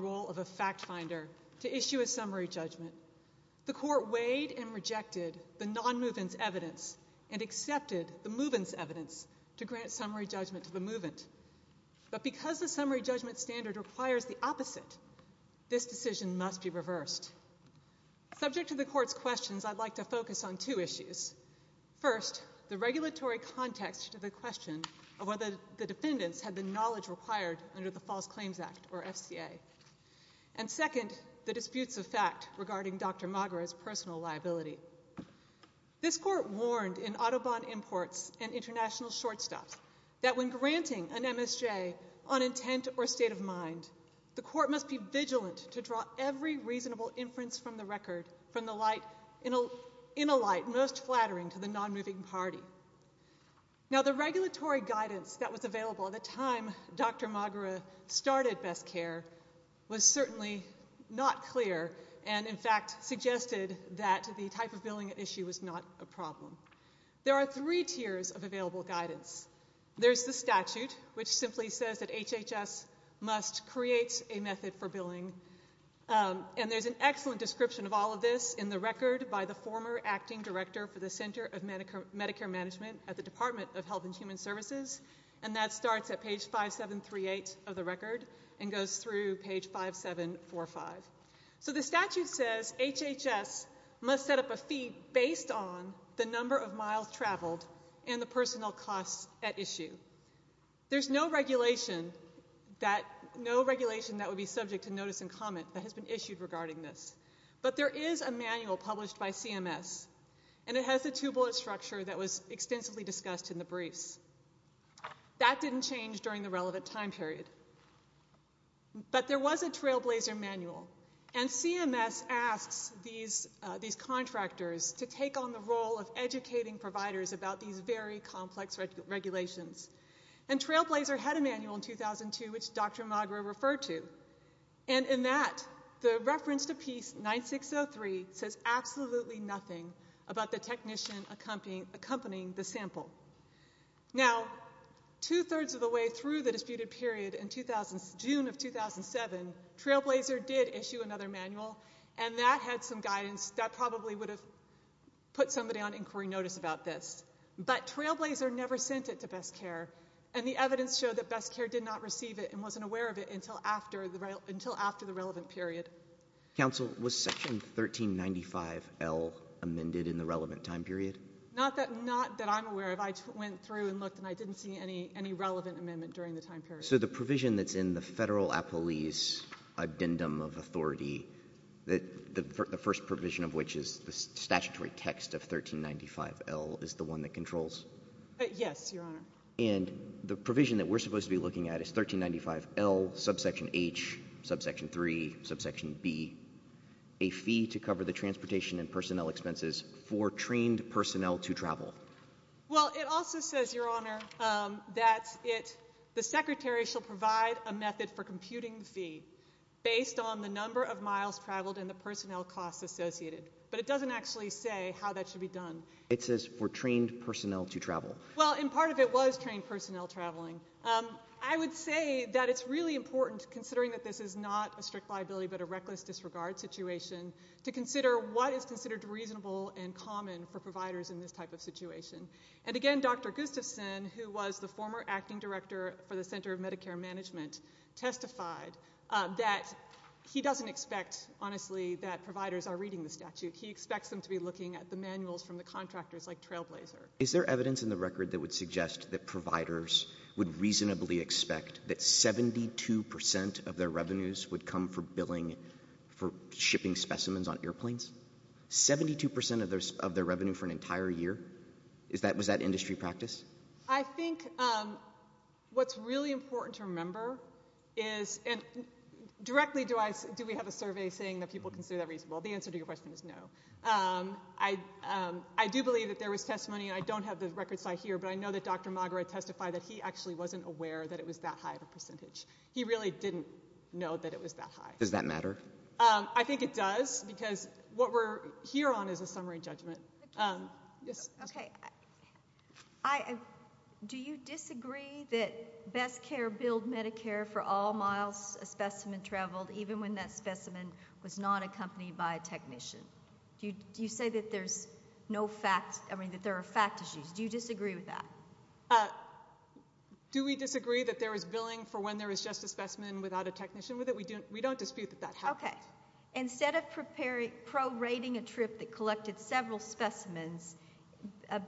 role of a fact finder to issue a summary judgment. The court weighed and rejected the non-movement evidence and accepted the movement evidence to grant summary judgment to the movement. But because the summary judgment standard requires the opposite, this decision must be reversed. Subject to the court's questions, I'd like to focus on two issues. First, the regulatory context to the question of whether the defendants had the knowledge required under the False Claims Act, or FCA. And second, the disputes of fact regarding Dr. Magra's personal liability. This court warned in Audubon Imports and International Short Stops that when granting an MSJ on intent or state of mind, the court must be vigilant to draw every reasonable inference from the record in a light most flattering to the non-moving party. Now, the regulatory guidance that was available at the time Dr. Magra started BestCare was certainly not clear, and in fact, suggested that the type of billing issue was not a problem. There are three tiers of available guidance. There's the statute, which simply says that HHS must create a method for billing. And there's an excellent description of all of this in the record by the former acting director for the Center of Medicare Management at the Department of Health and Human Services, and that starts at page 5738 of the record and goes through page 5745. So the statute says HHS must set up a fee based on the number of miles traveled and the personal costs at issue. There's no regulation that would be CMS, and it has a two-bullet structure that was extensively discussed in the briefs. That didn't change during the relevant time period. But there was a Trailblazer manual, and CMS asks these contractors to take on the role of educating providers about these very complex regulations. And Trailblazer had a manual in 2002 which Dr. Magra referred to, and in that, the reference to piece 9603 says absolutely nothing about the technician accompanying the sample. Now, two-thirds of the way through the disputed period in June of 2007, Trailblazer did issue another manual, and that had some guidance that probably would have put somebody on inquiry notice about this. But Trailblazer never sent it to BestCare, and the evidence showed that BestCare did not receive it and wasn't aware of it until after the relevant period. Counsel, was Section 1395L amended in the relevant time period? Not that I'm aware of. I went through and looked, and I didn't see any relevant amendment during the time period. So the provision that's in the Federal Appellee's Addendum of Authority, the first provision of which is the statutory text of 1395L, is the one that controls? Yes, Your Honor. And the provision that we're supposed to be looking at is 1395L, subsection H, subsection 3, subsection B, a fee to cover the transportation and personnel expenses for trained personnel to travel. Well, it also says, Your Honor, that the Secretary shall provide a method for computing the fee based on the number of miles traveled and the personnel costs associated. But it doesn't actually say how that should be done. It says for trained personnel to travel. Well, and part of it was trained personnel traveling. I would say that it's really important, considering that this is not a strict liability but a reckless disregard situation, to consider what is considered reasonable and common for providers in this type of situation. And again, Dr. Gustafson, who was the former acting director for the Center of Medicare Management, testified that he doesn't expect, honestly, that providers are reading the statute. He expects them to be looking at the manuals from the contractors like Trailblazer. Is there evidence in the record that would suggest that providers would reasonably expect that 72 percent of their revenues would come from billing for shipping specimens on airplanes? 72 percent of their revenue for an entire year? Was that industry practice? I think what's really important to remember is, and directly do we have a survey saying that people consider that reasonable? The answer to your question is no. I do believe that there was testimony, and I don't have the records I hear, but I know that Dr. Magara testified that he actually wasn't aware that it was that high of a percentage. He really didn't know that it was that high. Does that matter? I think it does, because what we're here on is a summary judgment. Okay. Do you disagree that BestCare billed Medicare for all miles a specimen traveled, even when that specimen was not accompanied by a technician? Do you say that there's no fact, I mean that there are fact issues? Do you disagree with that? Do we disagree that there was billing for when there was just a specimen without a technician with it? We don't dispute that that happened. Okay. Instead of prorating a trip that collected several specimens,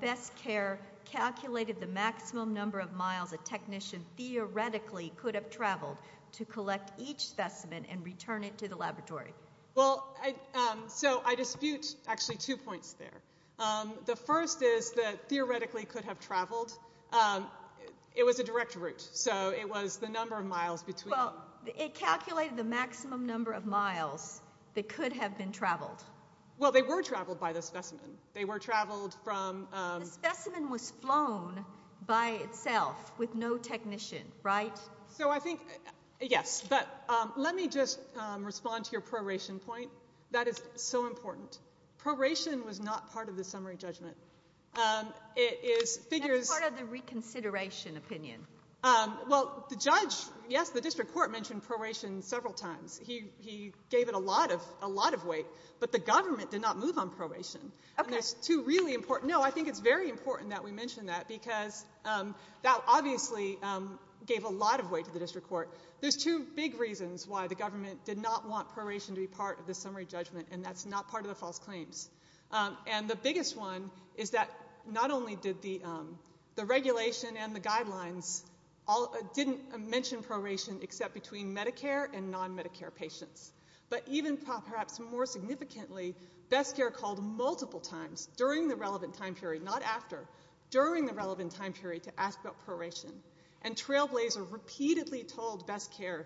BestCare calculated the maximum number of miles a technician theoretically could have traveled to collect each specimen and return it to the laboratory. Well, so I dispute actually two points there. The first is that theoretically could have traveled. It was a direct route, so it was the number of miles between. Well, it calculated the maximum number of miles that could have been traveled. Well, they were traveled by the specimen. They were traveled from... The specimen was flown by itself with no technician, right? So I think, yes, but let me just respond to your proration point. That is so important. Proration was not part of the summary judgment. It is figures... That's part of the reconsideration opinion. Well, the judge, yes, the district court mentioned proration several times. He gave it a lot of weight, but the government did not move on proration. Okay. And there's two really important... No, I think it's very important that we mention that because that obviously gave a lot of weight to the district court. There's two big reasons why the government did not want proration to be part of the summary judgment, and that's not part of the false claims. And the biggest one is that not only did the regulation and the guidelines didn't mention proration except between Medicare and non-Medicare patients, but even perhaps more significantly, BestCare called multiple times during the relevant time period, not after, during the relevant time period to ask about proration. And Trailblazer repeatedly told BestCare,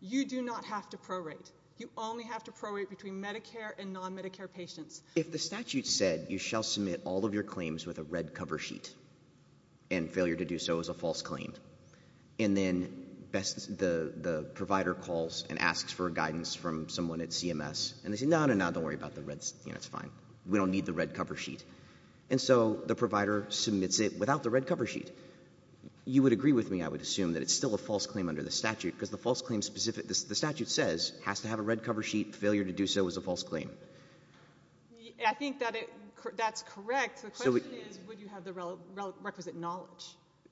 you do not have to prorate. You only have to prorate between Medicare and non-Medicare patients. If the statute said, you shall submit all of your claims with a red cover sheet and failure to do so is a false claim, and then the provider calls and asks for guidance from someone at CMS, and they say, no, no, no, don't worry about the reds. It's fine. We don't need the red cover sheet. And so the provider submits it without the red cover sheet. You would agree with me, I would assume, that it's still a false claim under the statute, because the false claim specific, the statute says, has to have a red cover sheet, failure to do so is a false claim. I think that it, that's correct. The question is, would you have the requisite knowledge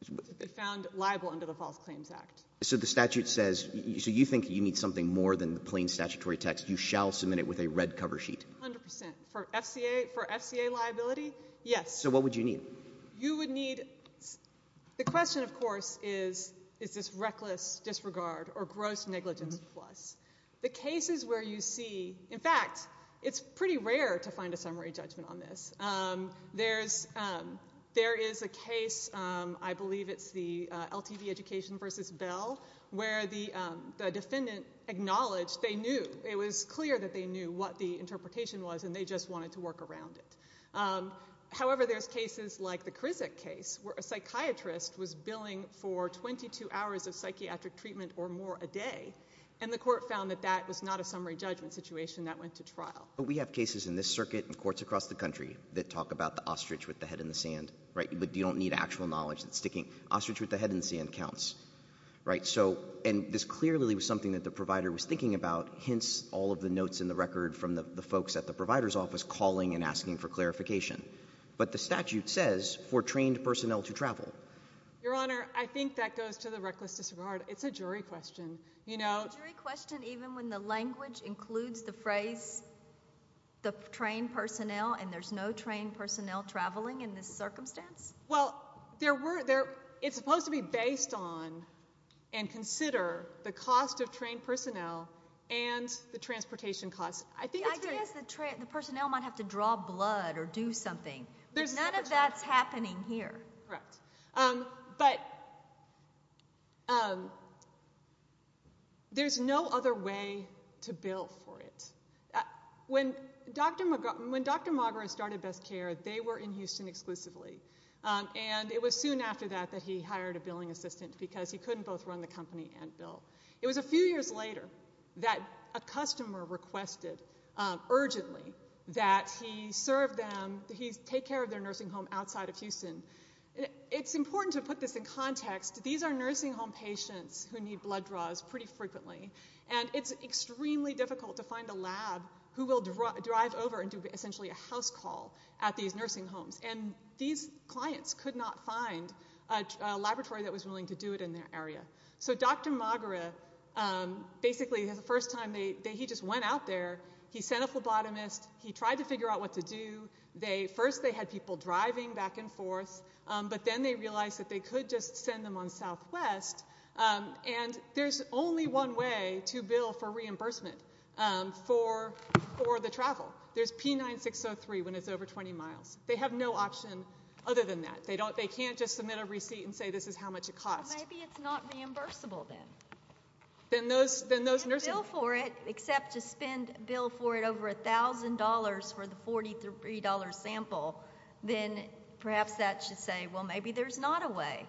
to be found liable under the False Claims Act? So the statute says, so you think you need something more than the plain statutory text, you shall submit it with a red cover sheet? 100%. For FCA, for FCA liability, yes. So what would you need? You would need, the question of course is, is this reckless disregard or gross negligence plus? The cases where you see, in fact, it's pretty rare to find a summary judgment on this. There's, there is a case, I believe it's the LTV Education v. Bell, where the defendant acknowledged they knew, it was clear that they knew what the interpretation was and they just wanted to work around it. However, there's cases like the Krizak case, where a psychiatrist was billing for 22 hours of psychiatric treatment or more a day, and the court found that that was not a summary judgment situation, that went to trial. But we have cases in this circuit and courts across the country that talk about the ostrich with the head in the sand, right? You don't need actual knowledge that's sticking. Ostrich with the head in the sand counts, right? So, and this clearly was something that the provider was thinking about, hence all of the notes in the record from the folks at the provider's office calling and asking for clarification. But the statute says, for trained personnel to travel. Your Honor, I think that goes to the reckless disregard. It's a jury question, you know. Is it a jury question even when the language includes the phrase, the trained personnel, and there's no trained personnel traveling in this circumstance? Well, there were, it's supposed to be based on and consider the cost of trained personnel and the transportation costs. The idea is the personnel might have to draw blood or do something. None of that's happening here. Correct. But there's no other way to bill for it. When Dr. Magra started BestCare, they were in Houston exclusively. And it was soon after that that he hired a billing assistant because he couldn't both run the company and bill. It was a few years later that a customer requested urgently that he serve them, that he take care of their nursing home outside of Houston. It's important to put this in context. These are nursing home patients who need blood draws pretty frequently. And it's extremely difficult to find a lab who will drive over and do essentially a house call at these nursing homes. And these clients could not find a laboratory that was willing to do it in their area. So Dr. Magra, basically for the first time, he just went out there. He sent a phlebotomist. He tried to figure out what to do. First they had people driving back and forth. But then they realized that they could just send them on Southwest. And there's only one way to bill for reimbursement for the travel. There's P9603 when it's over 20 miles. They have no option other than that. They can't just submit a receipt and say this is how much it costs. Well, maybe it's not reimbursable then. Then those nursing homes- If you can't bill for it, except to spend a bill for it over $1,000 for the $43 sample, then perhaps that should say, well, maybe there's not a way.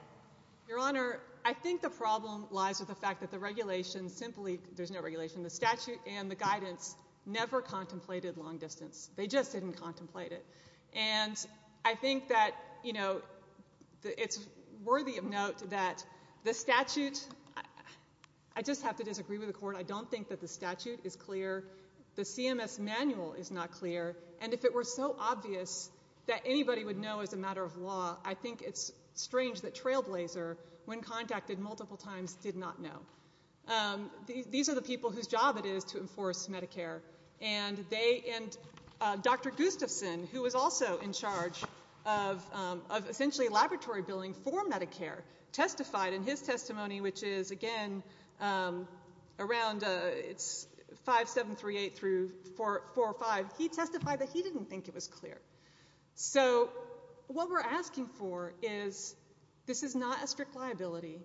Your Honor, I think the problem lies with the fact that the regulations simply, there's no regulation. The statute and the guidance never contemplated long distance. They just didn't contemplate it. And I think that it's worthy of note that the statute, I just have to disagree with the Court. I don't think that the statute is clear. The CMS manual is not clear. And if it were so obvious that anybody would know as a matter of law, I think it's strange that Trailblazer, when contacted multiple times, did not know. These are the people whose job it is to enforce Medicare. And Dr. Gustafson, who was also in charge of essentially laboratory billing for Medicare, testified in his testimony, which is, again, around 5-7-3-8 through 4-5. He testified that he didn't think it was clear. So what we're asking for is, this is not a strict liability.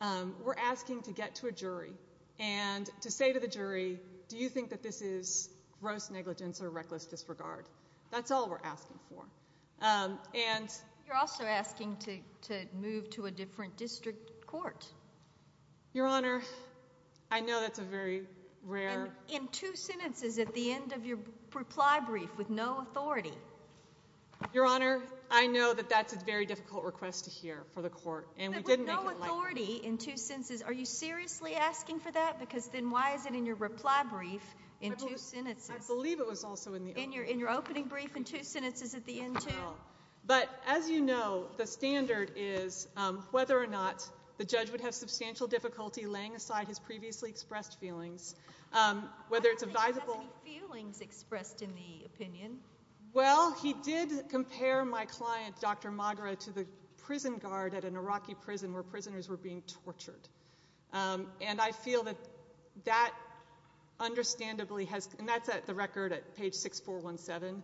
We're asking to get to a jury and to say to the jury, do you think that this is gross negligence or reckless disregard? That's all we're asking for. And you're also asking to move to a different district court. Your Honor, I know that's a very rare... Your Honor, I know that that's a very difficult request to hear for the Court. But with no authority in two sentences, are you seriously asking for that? Because then why is it in your reply brief in two sentences? I believe it was also in the... In your opening brief in two sentences at the end, too? But as you know, the standard is whether or not the judge would have substantial difficulty laying aside his previously expressed feelings, whether it's advisable... I don't think he has any feelings expressed in the opinion. Well, he did compare my client, Dr. Magra, to the prison guard at an Iraqi prison where prisoners were being tortured. And I feel that that understandably has... And that's at the record at page 6417.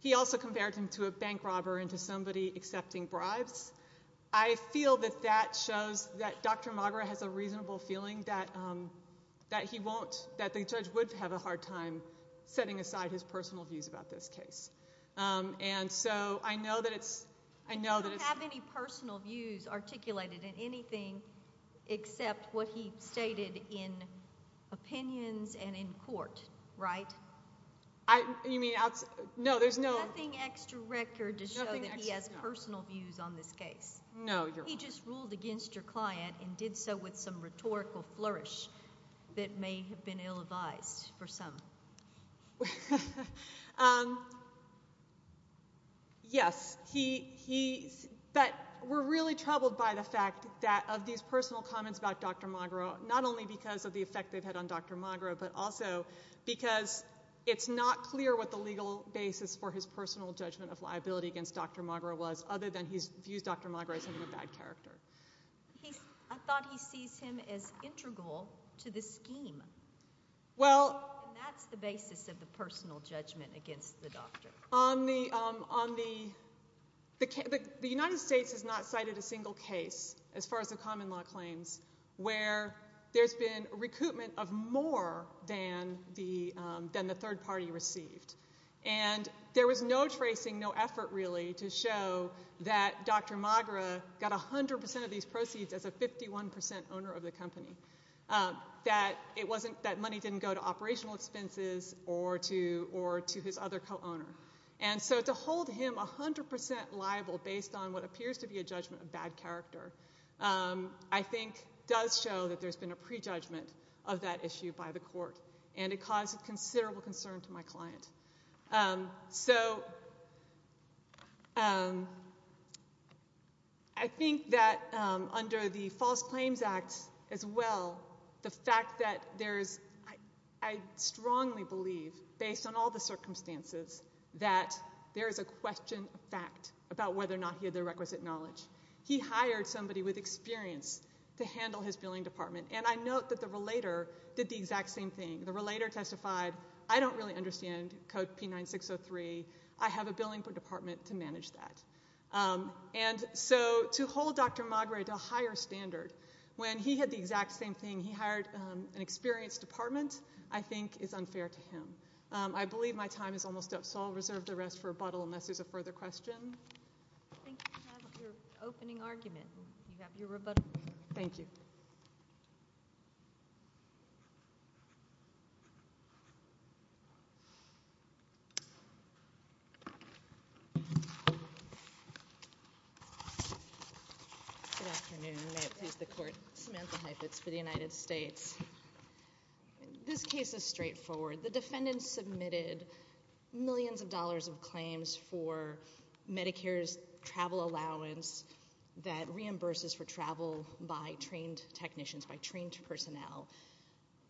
He also compared him to a bank robber and to somebody accepting bribes. I feel that that shows that Dr. Magra has a reasonable feeling that he won't... And so I know that it's... You don't have any personal views articulated in anything except what he stated in opinions and in court, right? I... You mean... No, there's no... Nothing extra record to show that he has personal views on this case. No, Your Honor. He just ruled against your client and did so with some rhetorical flourish that may have been ill-advised for some. Um... Yes, he... But we're really troubled by the fact that of these personal comments about Dr. Magra, not only because of the effect they've had on Dr. Magra, but also because it's not clear what the legal basis for his personal judgment of liability against Dr. Magra was, other than he views Dr. Magra as having a bad character. I thought he sees him as integral to the scheme. Well... And that's the basis of the personal judgment against the doctor. On the... The United States has not cited a single case, as far as the common law claims, where there's been recoupment of more than the third party received. And there was no tracing, no effort, really, to show that Dr. Magra got 100% of these proceeds as a 51% owner of the company. That it wasn't...that money didn't go to operational expenses or to his other co-owner. And so to hold him 100% liable, based on what appears to be a judgment of bad character, I think does show that there's been a prejudgment of that issue by the court. And it caused considerable concern to my client. So... I think that under the False Claims Act, as well, the fact that there's... I strongly believe, based on all the circumstances, that there is a question of fact about whether or not he had the requisite knowledge. He hired somebody with experience to handle his billing department. And I note that the relator did the exact same thing. The relator testified, I don't really understand Code P9603. I have a billing department to manage that. And so to hold Dr. Magra to a higher standard when he had the exact same thing, he hired an experienced department, I think is unfair to him. I believe my time is almost up, so I'll reserve the rest for rebuttal, unless there's a further question. I think you have your opening argument. You have your rebuttal. Thank you. Good afternoon. May it please the Court. Samantha Heifetz for the United States. This case is straightforward. The defendant submitted millions of dollars of claims for Medicare's travel allowance that reimburses for travel by trained technicians,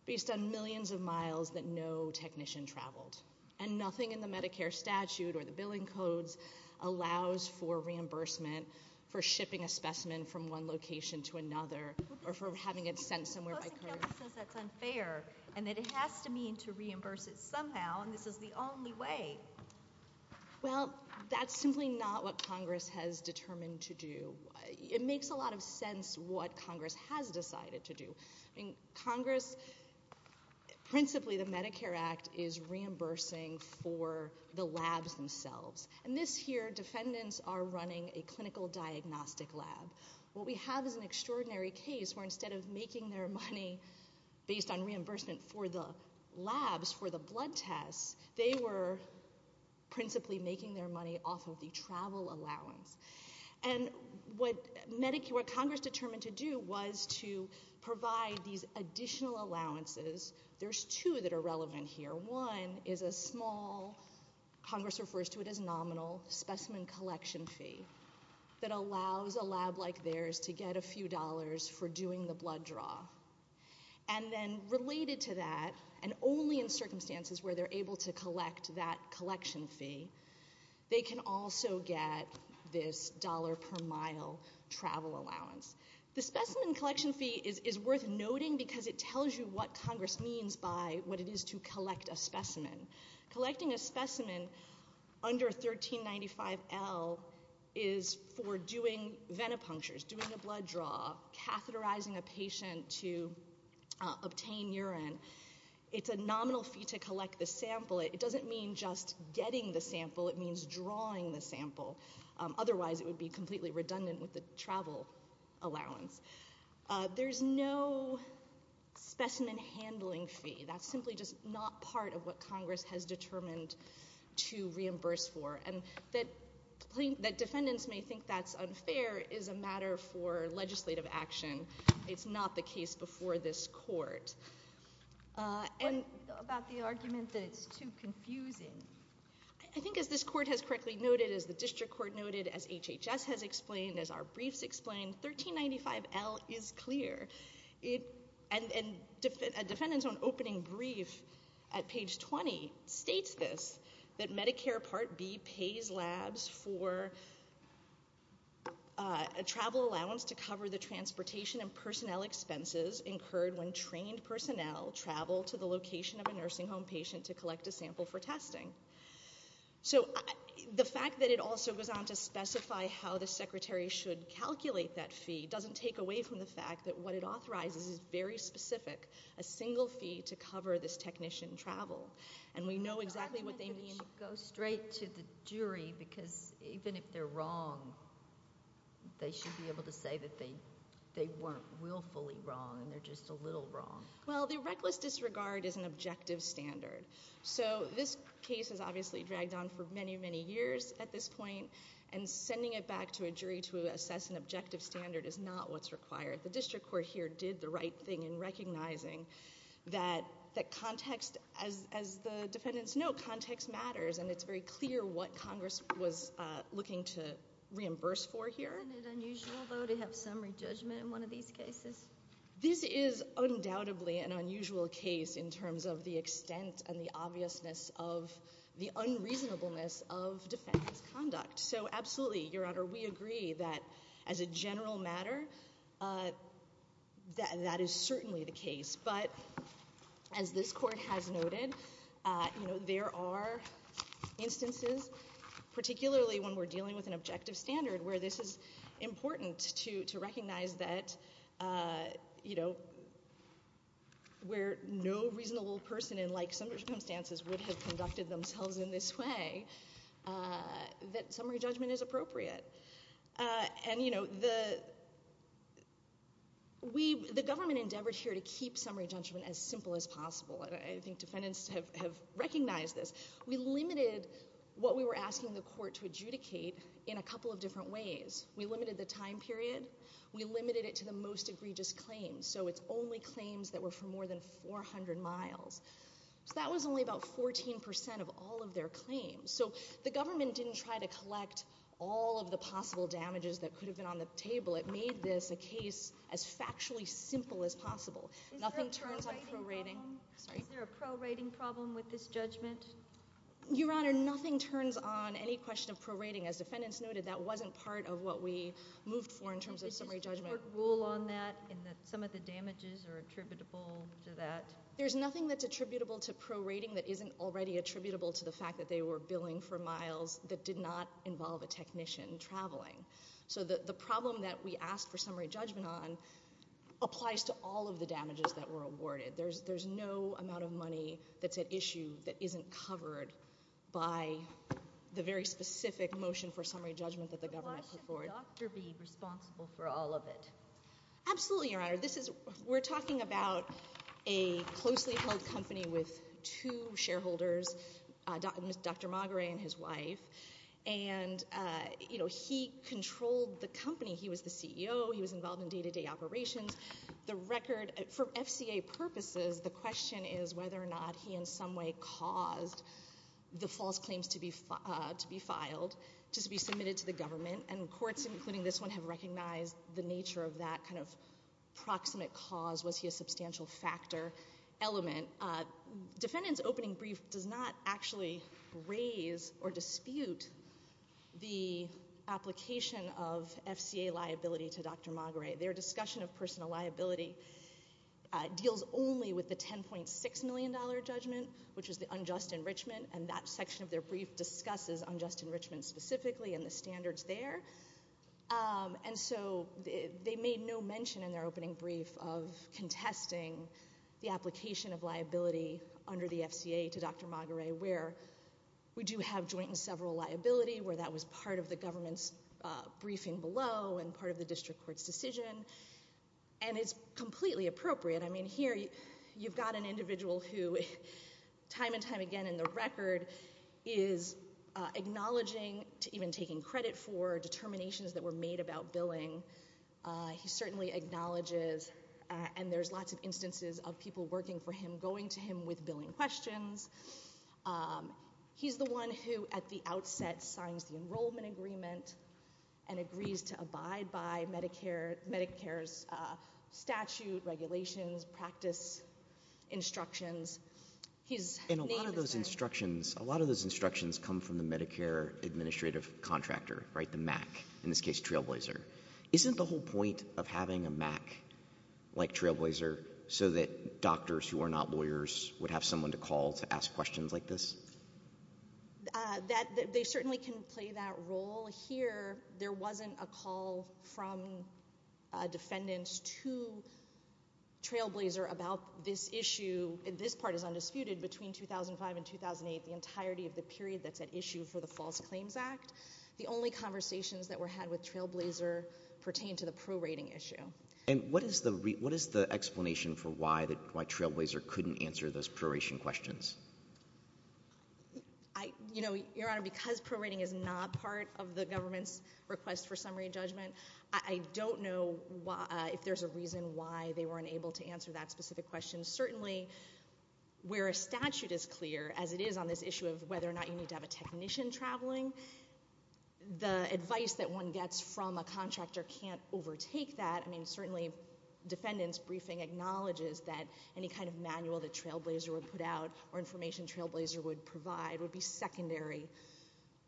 based on millions of miles that no technical person or technician traveled. And nothing in the Medicare statute or the billing codes allows for reimbursement for shipping a specimen from one location to another or for having it sent somewhere by courier. The posting notice says that's unfair and that it has to mean to reimburse it somehow, and this is the only way. Well, that's simply not what Congress has determined to do. It makes a lot of sense what Congress has decided to do. I mean, Congress... Principally, the Medicare Act is reimbursing for the labs themselves. And this here, defendants are running a clinical diagnostic lab. What we have is an extraordinary case where instead of making their money based on reimbursement for the labs for the blood tests, they were principally making their money off of the travel allowance. And what Congress determined to do was to provide these additional allowances. There's two that are relevant here. One is a small... Congress refers to it as nominal specimen collection fee that allows a lab like theirs to get a few dollars for doing the blood draw. And then related to that, and only in circumstances where they're able to collect that collection fee, they can also get this dollar-per-mile travel allowance. The specimen collection fee is worth noting because it tells you what Congress means by what it is to collect a specimen. Collecting a specimen under 1395L is for doing venipunctures, doing a blood draw, catheterizing a patient to obtain urine. It's a nominal fee to collect the sample. It doesn't mean just getting the sample. It means drawing the sample. Otherwise, it would be completely redundant with the travel allowance. There's no specimen handling fee. That's simply just not part of what Congress has determined to reimburse for. And that defendants may think that's unfair is a matter for legislative action. It's not the case before this court. And... What about the argument that it's too confusing? I think as this court has correctly noted, as the district court noted, as HHS has explained, as our briefs explained, 1395L is clear. And a defendant's own opening brief at page 20 states this, that Medicare Part B pays labs for a travel allowance to cover the transportation and personnel expenses incurred when trained personnel to collect a sample for testing. So the fact that it also goes on to specify how the secretary should calculate that fee doesn't take away from the fact that what it authorizes is very specific, a single fee to cover this technician travel. And we know exactly what they mean. Go straight to the jury, because even if they're wrong, they should be able to say that they weren't willfully wrong and they're just a little wrong. Well, the reckless disregard is an objective standard. So this case has obviously dragged on for many, many years at this point, and sending it back to a jury to assess an objective standard is not what's required. The district court here did the right thing in recognizing that context, as the defendants know, context matters, and it's very clear what Congress was looking to reimburse for here. Isn't it unusual, though, to have summary judgment in one of these cases? This is undoubtedly an unusual case in terms of the extent and the obviousness of the unreasonableness of defendant's conduct. So absolutely, Your Honor, we agree that, as a general matter, that is certainly the case. But as this court has noted, there are instances, particularly when we're dealing with an objective standard, where this is important to recognize that, you know, where no reasonable person in like circumstances would have conducted themselves in this way, that summary judgment is appropriate. And, you know, the government endeavored here to keep summary judgment as simple as possible, and I think defendants have recognized this. We limited what we were asking the court to adjudicate in a couple of different ways. We limited the time period. We limited it to the most egregious claims. So it's only claims that were for more than 400 miles. So that was only about 14% of all of their claims. So the government didn't try to collect all of the possible damages that could have been on the table. It made this a case as factually simple as possible. Nothing turns on prorating... Is there a prorating problem with this judgment? Your Honor, nothing turns on any question of prorating. As defendants noted, that wasn't part of what we moved for in terms of summary judgment. Is this court rule on that, in that some of the damages are attributable to that? There's nothing that's attributable to prorating that isn't already attributable to the fact that they were billing for miles that did not involve a technician traveling. So the problem that we asked for summary judgment on applies to all of the damages that were awarded. There's no amount of money that's at issue that isn't covered by the very specific motion for summary judgment that the government put forward. Why should the doctor be responsible for all of it? Absolutely, Your Honor. We're talking about a closely-held company with two shareholders, Dr. Maguire and his wife. And, you know, he controlled the company. He was the CEO. He was involved in day-to-day operations. For FCA purposes, the question is whether or not he in some way caused the false claims to be filed to be submitted to the government. And courts, including this one, have recognized the nature of that kind of proximate cause. Was he a substantial factor element? Defendant's opening brief does not actually raise or dispute the application of FCA liability to Dr. Maguire. Their discussion of personal liability deals only with the $10.6 million judgment, which is the unjust enrichment, and that section of their brief discusses unjust enrichment specifically and the standards there. And so they made no mention in their opening brief of contesting the application of liability under the FCA to Dr. Maguire, where we do have joint and several liability, where that was part of the government's briefing below and part of the district court's decision. And it's completely appropriate. I mean, here you've got an individual who time and time again in the record is acknowledging to even taking credit for determinations that were made about billing. He certainly acknowledges, and there's lots of instances of people working for him, going to him with billing questions. He's the one who, at the outset, signs the enrollment agreement and agrees to abide by Medicare's statute, regulations, practice, instructions. And a lot of those instructions come from the Medicare administrative contractor, the MAC, in this case, Trailblazer. Isn't the whole point of having a MAC like Trailblazer so that doctors who are not lawyers would have someone to call to ask questions like this? They certainly can play that role here. There wasn't a call from defendants to Trailblazer about this issue. This part is undisputed. Between 2005 and 2008, the entirety of the period that's at issue for the False Claims Act, the only conversations that were had with Trailblazer pertain to the prorating issue. And what is the explanation for why Trailblazer couldn't answer those proration questions? Your Honor, because prorating is not part of the government's request for summary judgment, I don't know if there's a reason why they weren't able to answer that specific question. Certainly, where a statute is clear, as it is on this issue of whether or not you need to have a technician traveling, the advice that one gets from a contractor can't overtake that. Certainly, defendants' briefing acknowledges that any kind of manual that Trailblazer would put out or information Trailblazer would provide would be secondary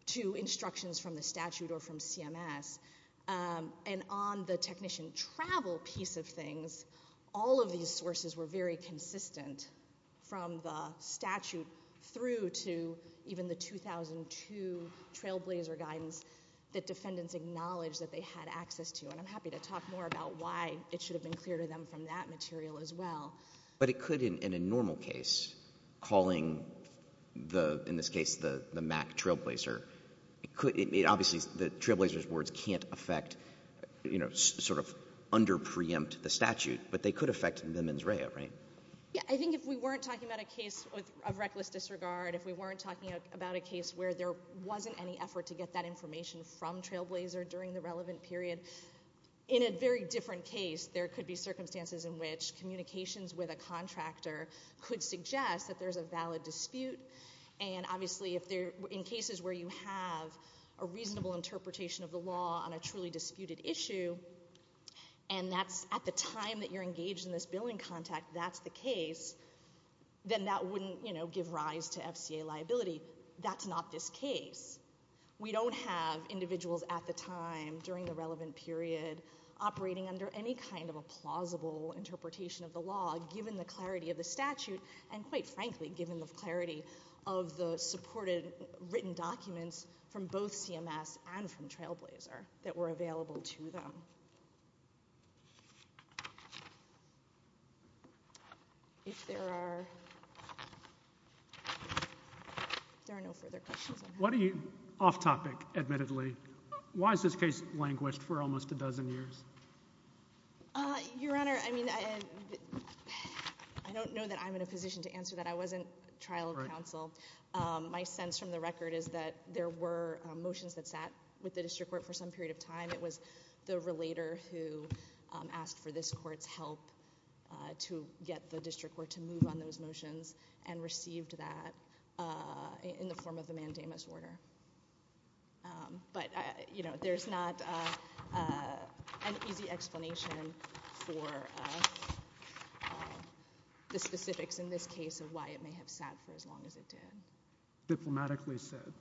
to instructions from the statute or from CMS. And on the technician travel piece of things, all of these sources were very consistent from the statute through to even the 2002 Trailblazer guidance that defendants acknowledged that they had access to. And I'm happy to talk more about why it should have been clear to them from that material as well. But it could, in a normal case, calling the, in this case, the MAC Trailblazer, it could, obviously, the Trailblazer's words can't affect, you know, sort of underpreempt the statute, but they could affect the mens rea, right? Yeah, I think if we weren't talking about a case of reckless disregard, if we weren't talking about a case where there wasn't any effort to get that information from Trailblazer during the relevant period, in a very different case, there could be circumstances in which communications with a contractor could suggest that there's a valid dispute. And, obviously, in cases where you have a reasonable interpretation of the law on a truly disputed issue, and that's at the time that you're engaged in this billing contact, that's the case, then that wouldn't, you know, give rise to FCA liability. That's not this case. We don't have individuals at the time, during the relevant period, operating under any kind of a plausible interpretation of the law, given the clarity of the statute, and, quite frankly, given the clarity of the supported written documents from both CMS and from Trailblazer that were available to them. If there are... If there are no further questions... Off-topic, admittedly, why is this case languished for almost a dozen years? Your Honor, I mean, I don't know that I'm in a position to answer that. I wasn't trial counsel. My sense from the record is that there were motions that sat with the district court for some period of time. It was the relator who asked for this court's help to get the district court to move on those motions and received that in the form of the mandamus order. But, you know, there's not an easy explanation for the specifics in this case of why it may have sat for as long as it did. Diplomatically said.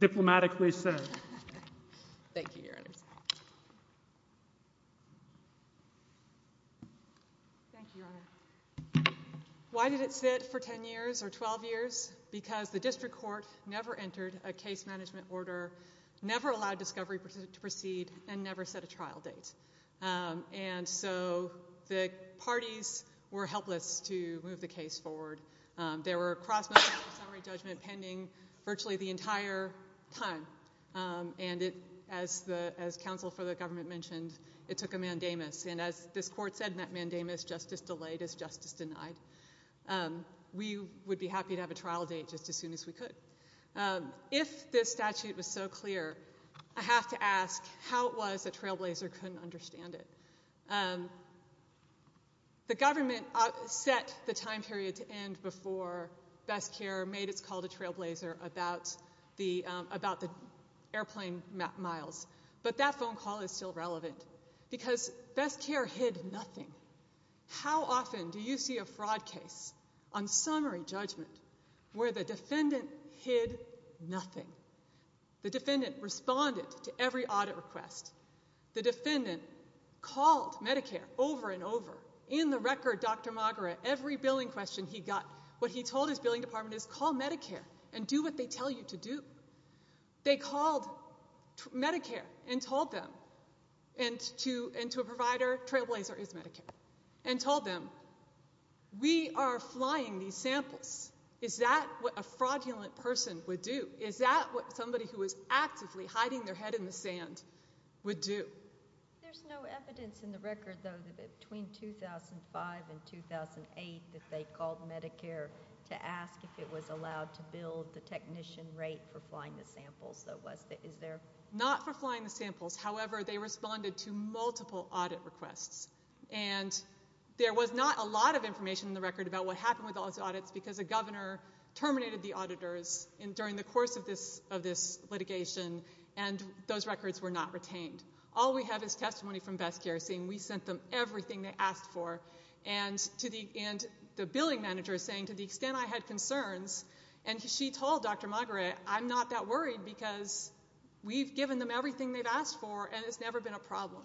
Diplomatically said. Thank you, Your Honor. Thank you, Your Honor. Why did it sit for 10 years or 12 years? Because the district court never entered a case management order, never allowed discovery to proceed, and never set a trial date. And so the parties were helpless to move the case forward. There were cross-motion summary judgment pending virtually the entire time. And as counsel for the government mentioned, it took a mandamus. And as this court said in that mandamus, justice delayed is justice denied. We would be happy to have a trial date just as soon as we could. If this statute was so clear, I have to ask how it was that Trailblazer couldn't understand it. The government set the time period to end before Best Care made its call to Trailblazer about the airplane miles. But that phone call is still relevant because Best Care hid nothing. How often do you see a fraud case on summary judgment where the defendant hid nothing? The defendant responded to every audit request. The defendant called Medicare over and over. In the record, Dr. Magara, every billing question he got, what he told his billing department is, call Medicare and do what they tell you to do. They called Medicare and told them, and to a provider, Trailblazer is Medicare, and told them, we are flying these samples. Is that what a fraudulent person would do? Is that what somebody who was actively hiding their head in the sand would do? There's no evidence in the record, though, that between 2005 and 2008 that they called Medicare to ask if it was allowed to bill the technician rate for flying the samples. Not for flying the samples. However, they responded to multiple audit requests. And there was not a lot of information in the record about what happened with all those audits because the governor terminated the auditors during the course of this litigation, and those records were not retained. All we have is testimony from Best Care saying we sent them everything they asked for. And the billing manager is saying, to the extent I had concerns, and she told Dr. Magara, I'm not that worried because we've given them everything they've asked for and it's never been a problem.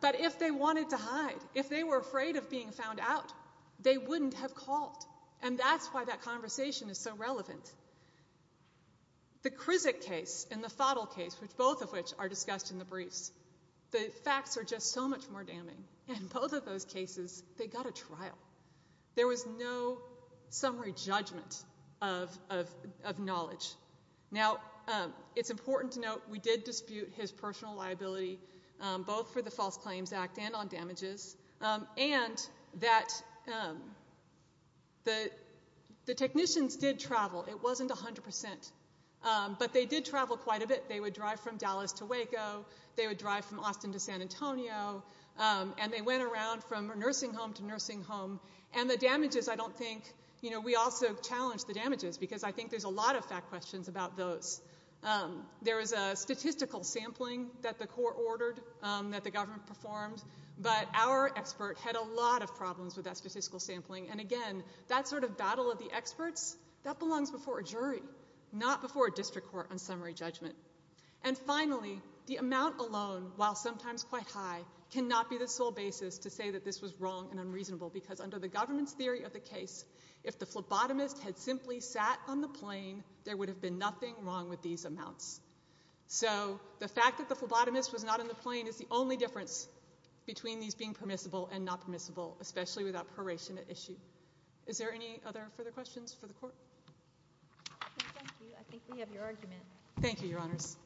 But if they wanted to hide, if they were afraid of being found out, they wouldn't have called. And that's why that conversation is so relevant. The Krizik case and the Fottle case, both of which are discussed in the briefs, the facts are just so much more damning. In both of those cases, they got a trial. There was no summary judgment of knowledge. Now, it's important to note we did dispute his personal liability, both for the False Claims Act and on damages, and that the technicians did travel. It wasn't 100%. But they did travel quite a bit. They would drive from Dallas to Waco. They would drive from Austin to San Antonio. And they went around from nursing home to nursing home. And the damages, I don't think... You know, we also challenged the damages because I think there's a lot of fact questions about those. There was a statistical sampling that the court ordered that the government performed, but our expert had a lot of problems with that statistical sampling. And, again, that sort of battle of the experts, that belongs before a jury, not before a district court on summary judgment. And, finally, the amount alone, while sometimes quite high, cannot be the sole basis to say that this was wrong and unreasonable because under the government's theory of the case, if the phlebotomist had simply sat on the plane, there would have been nothing wrong with these amounts. So the fact that the phlebotomist was not on the plane is the only difference between these being permissible and not permissible, especially without proration at issue. Is there any other further questions for the court? Thank you. I think we have your argument. Thank you, Your Honors.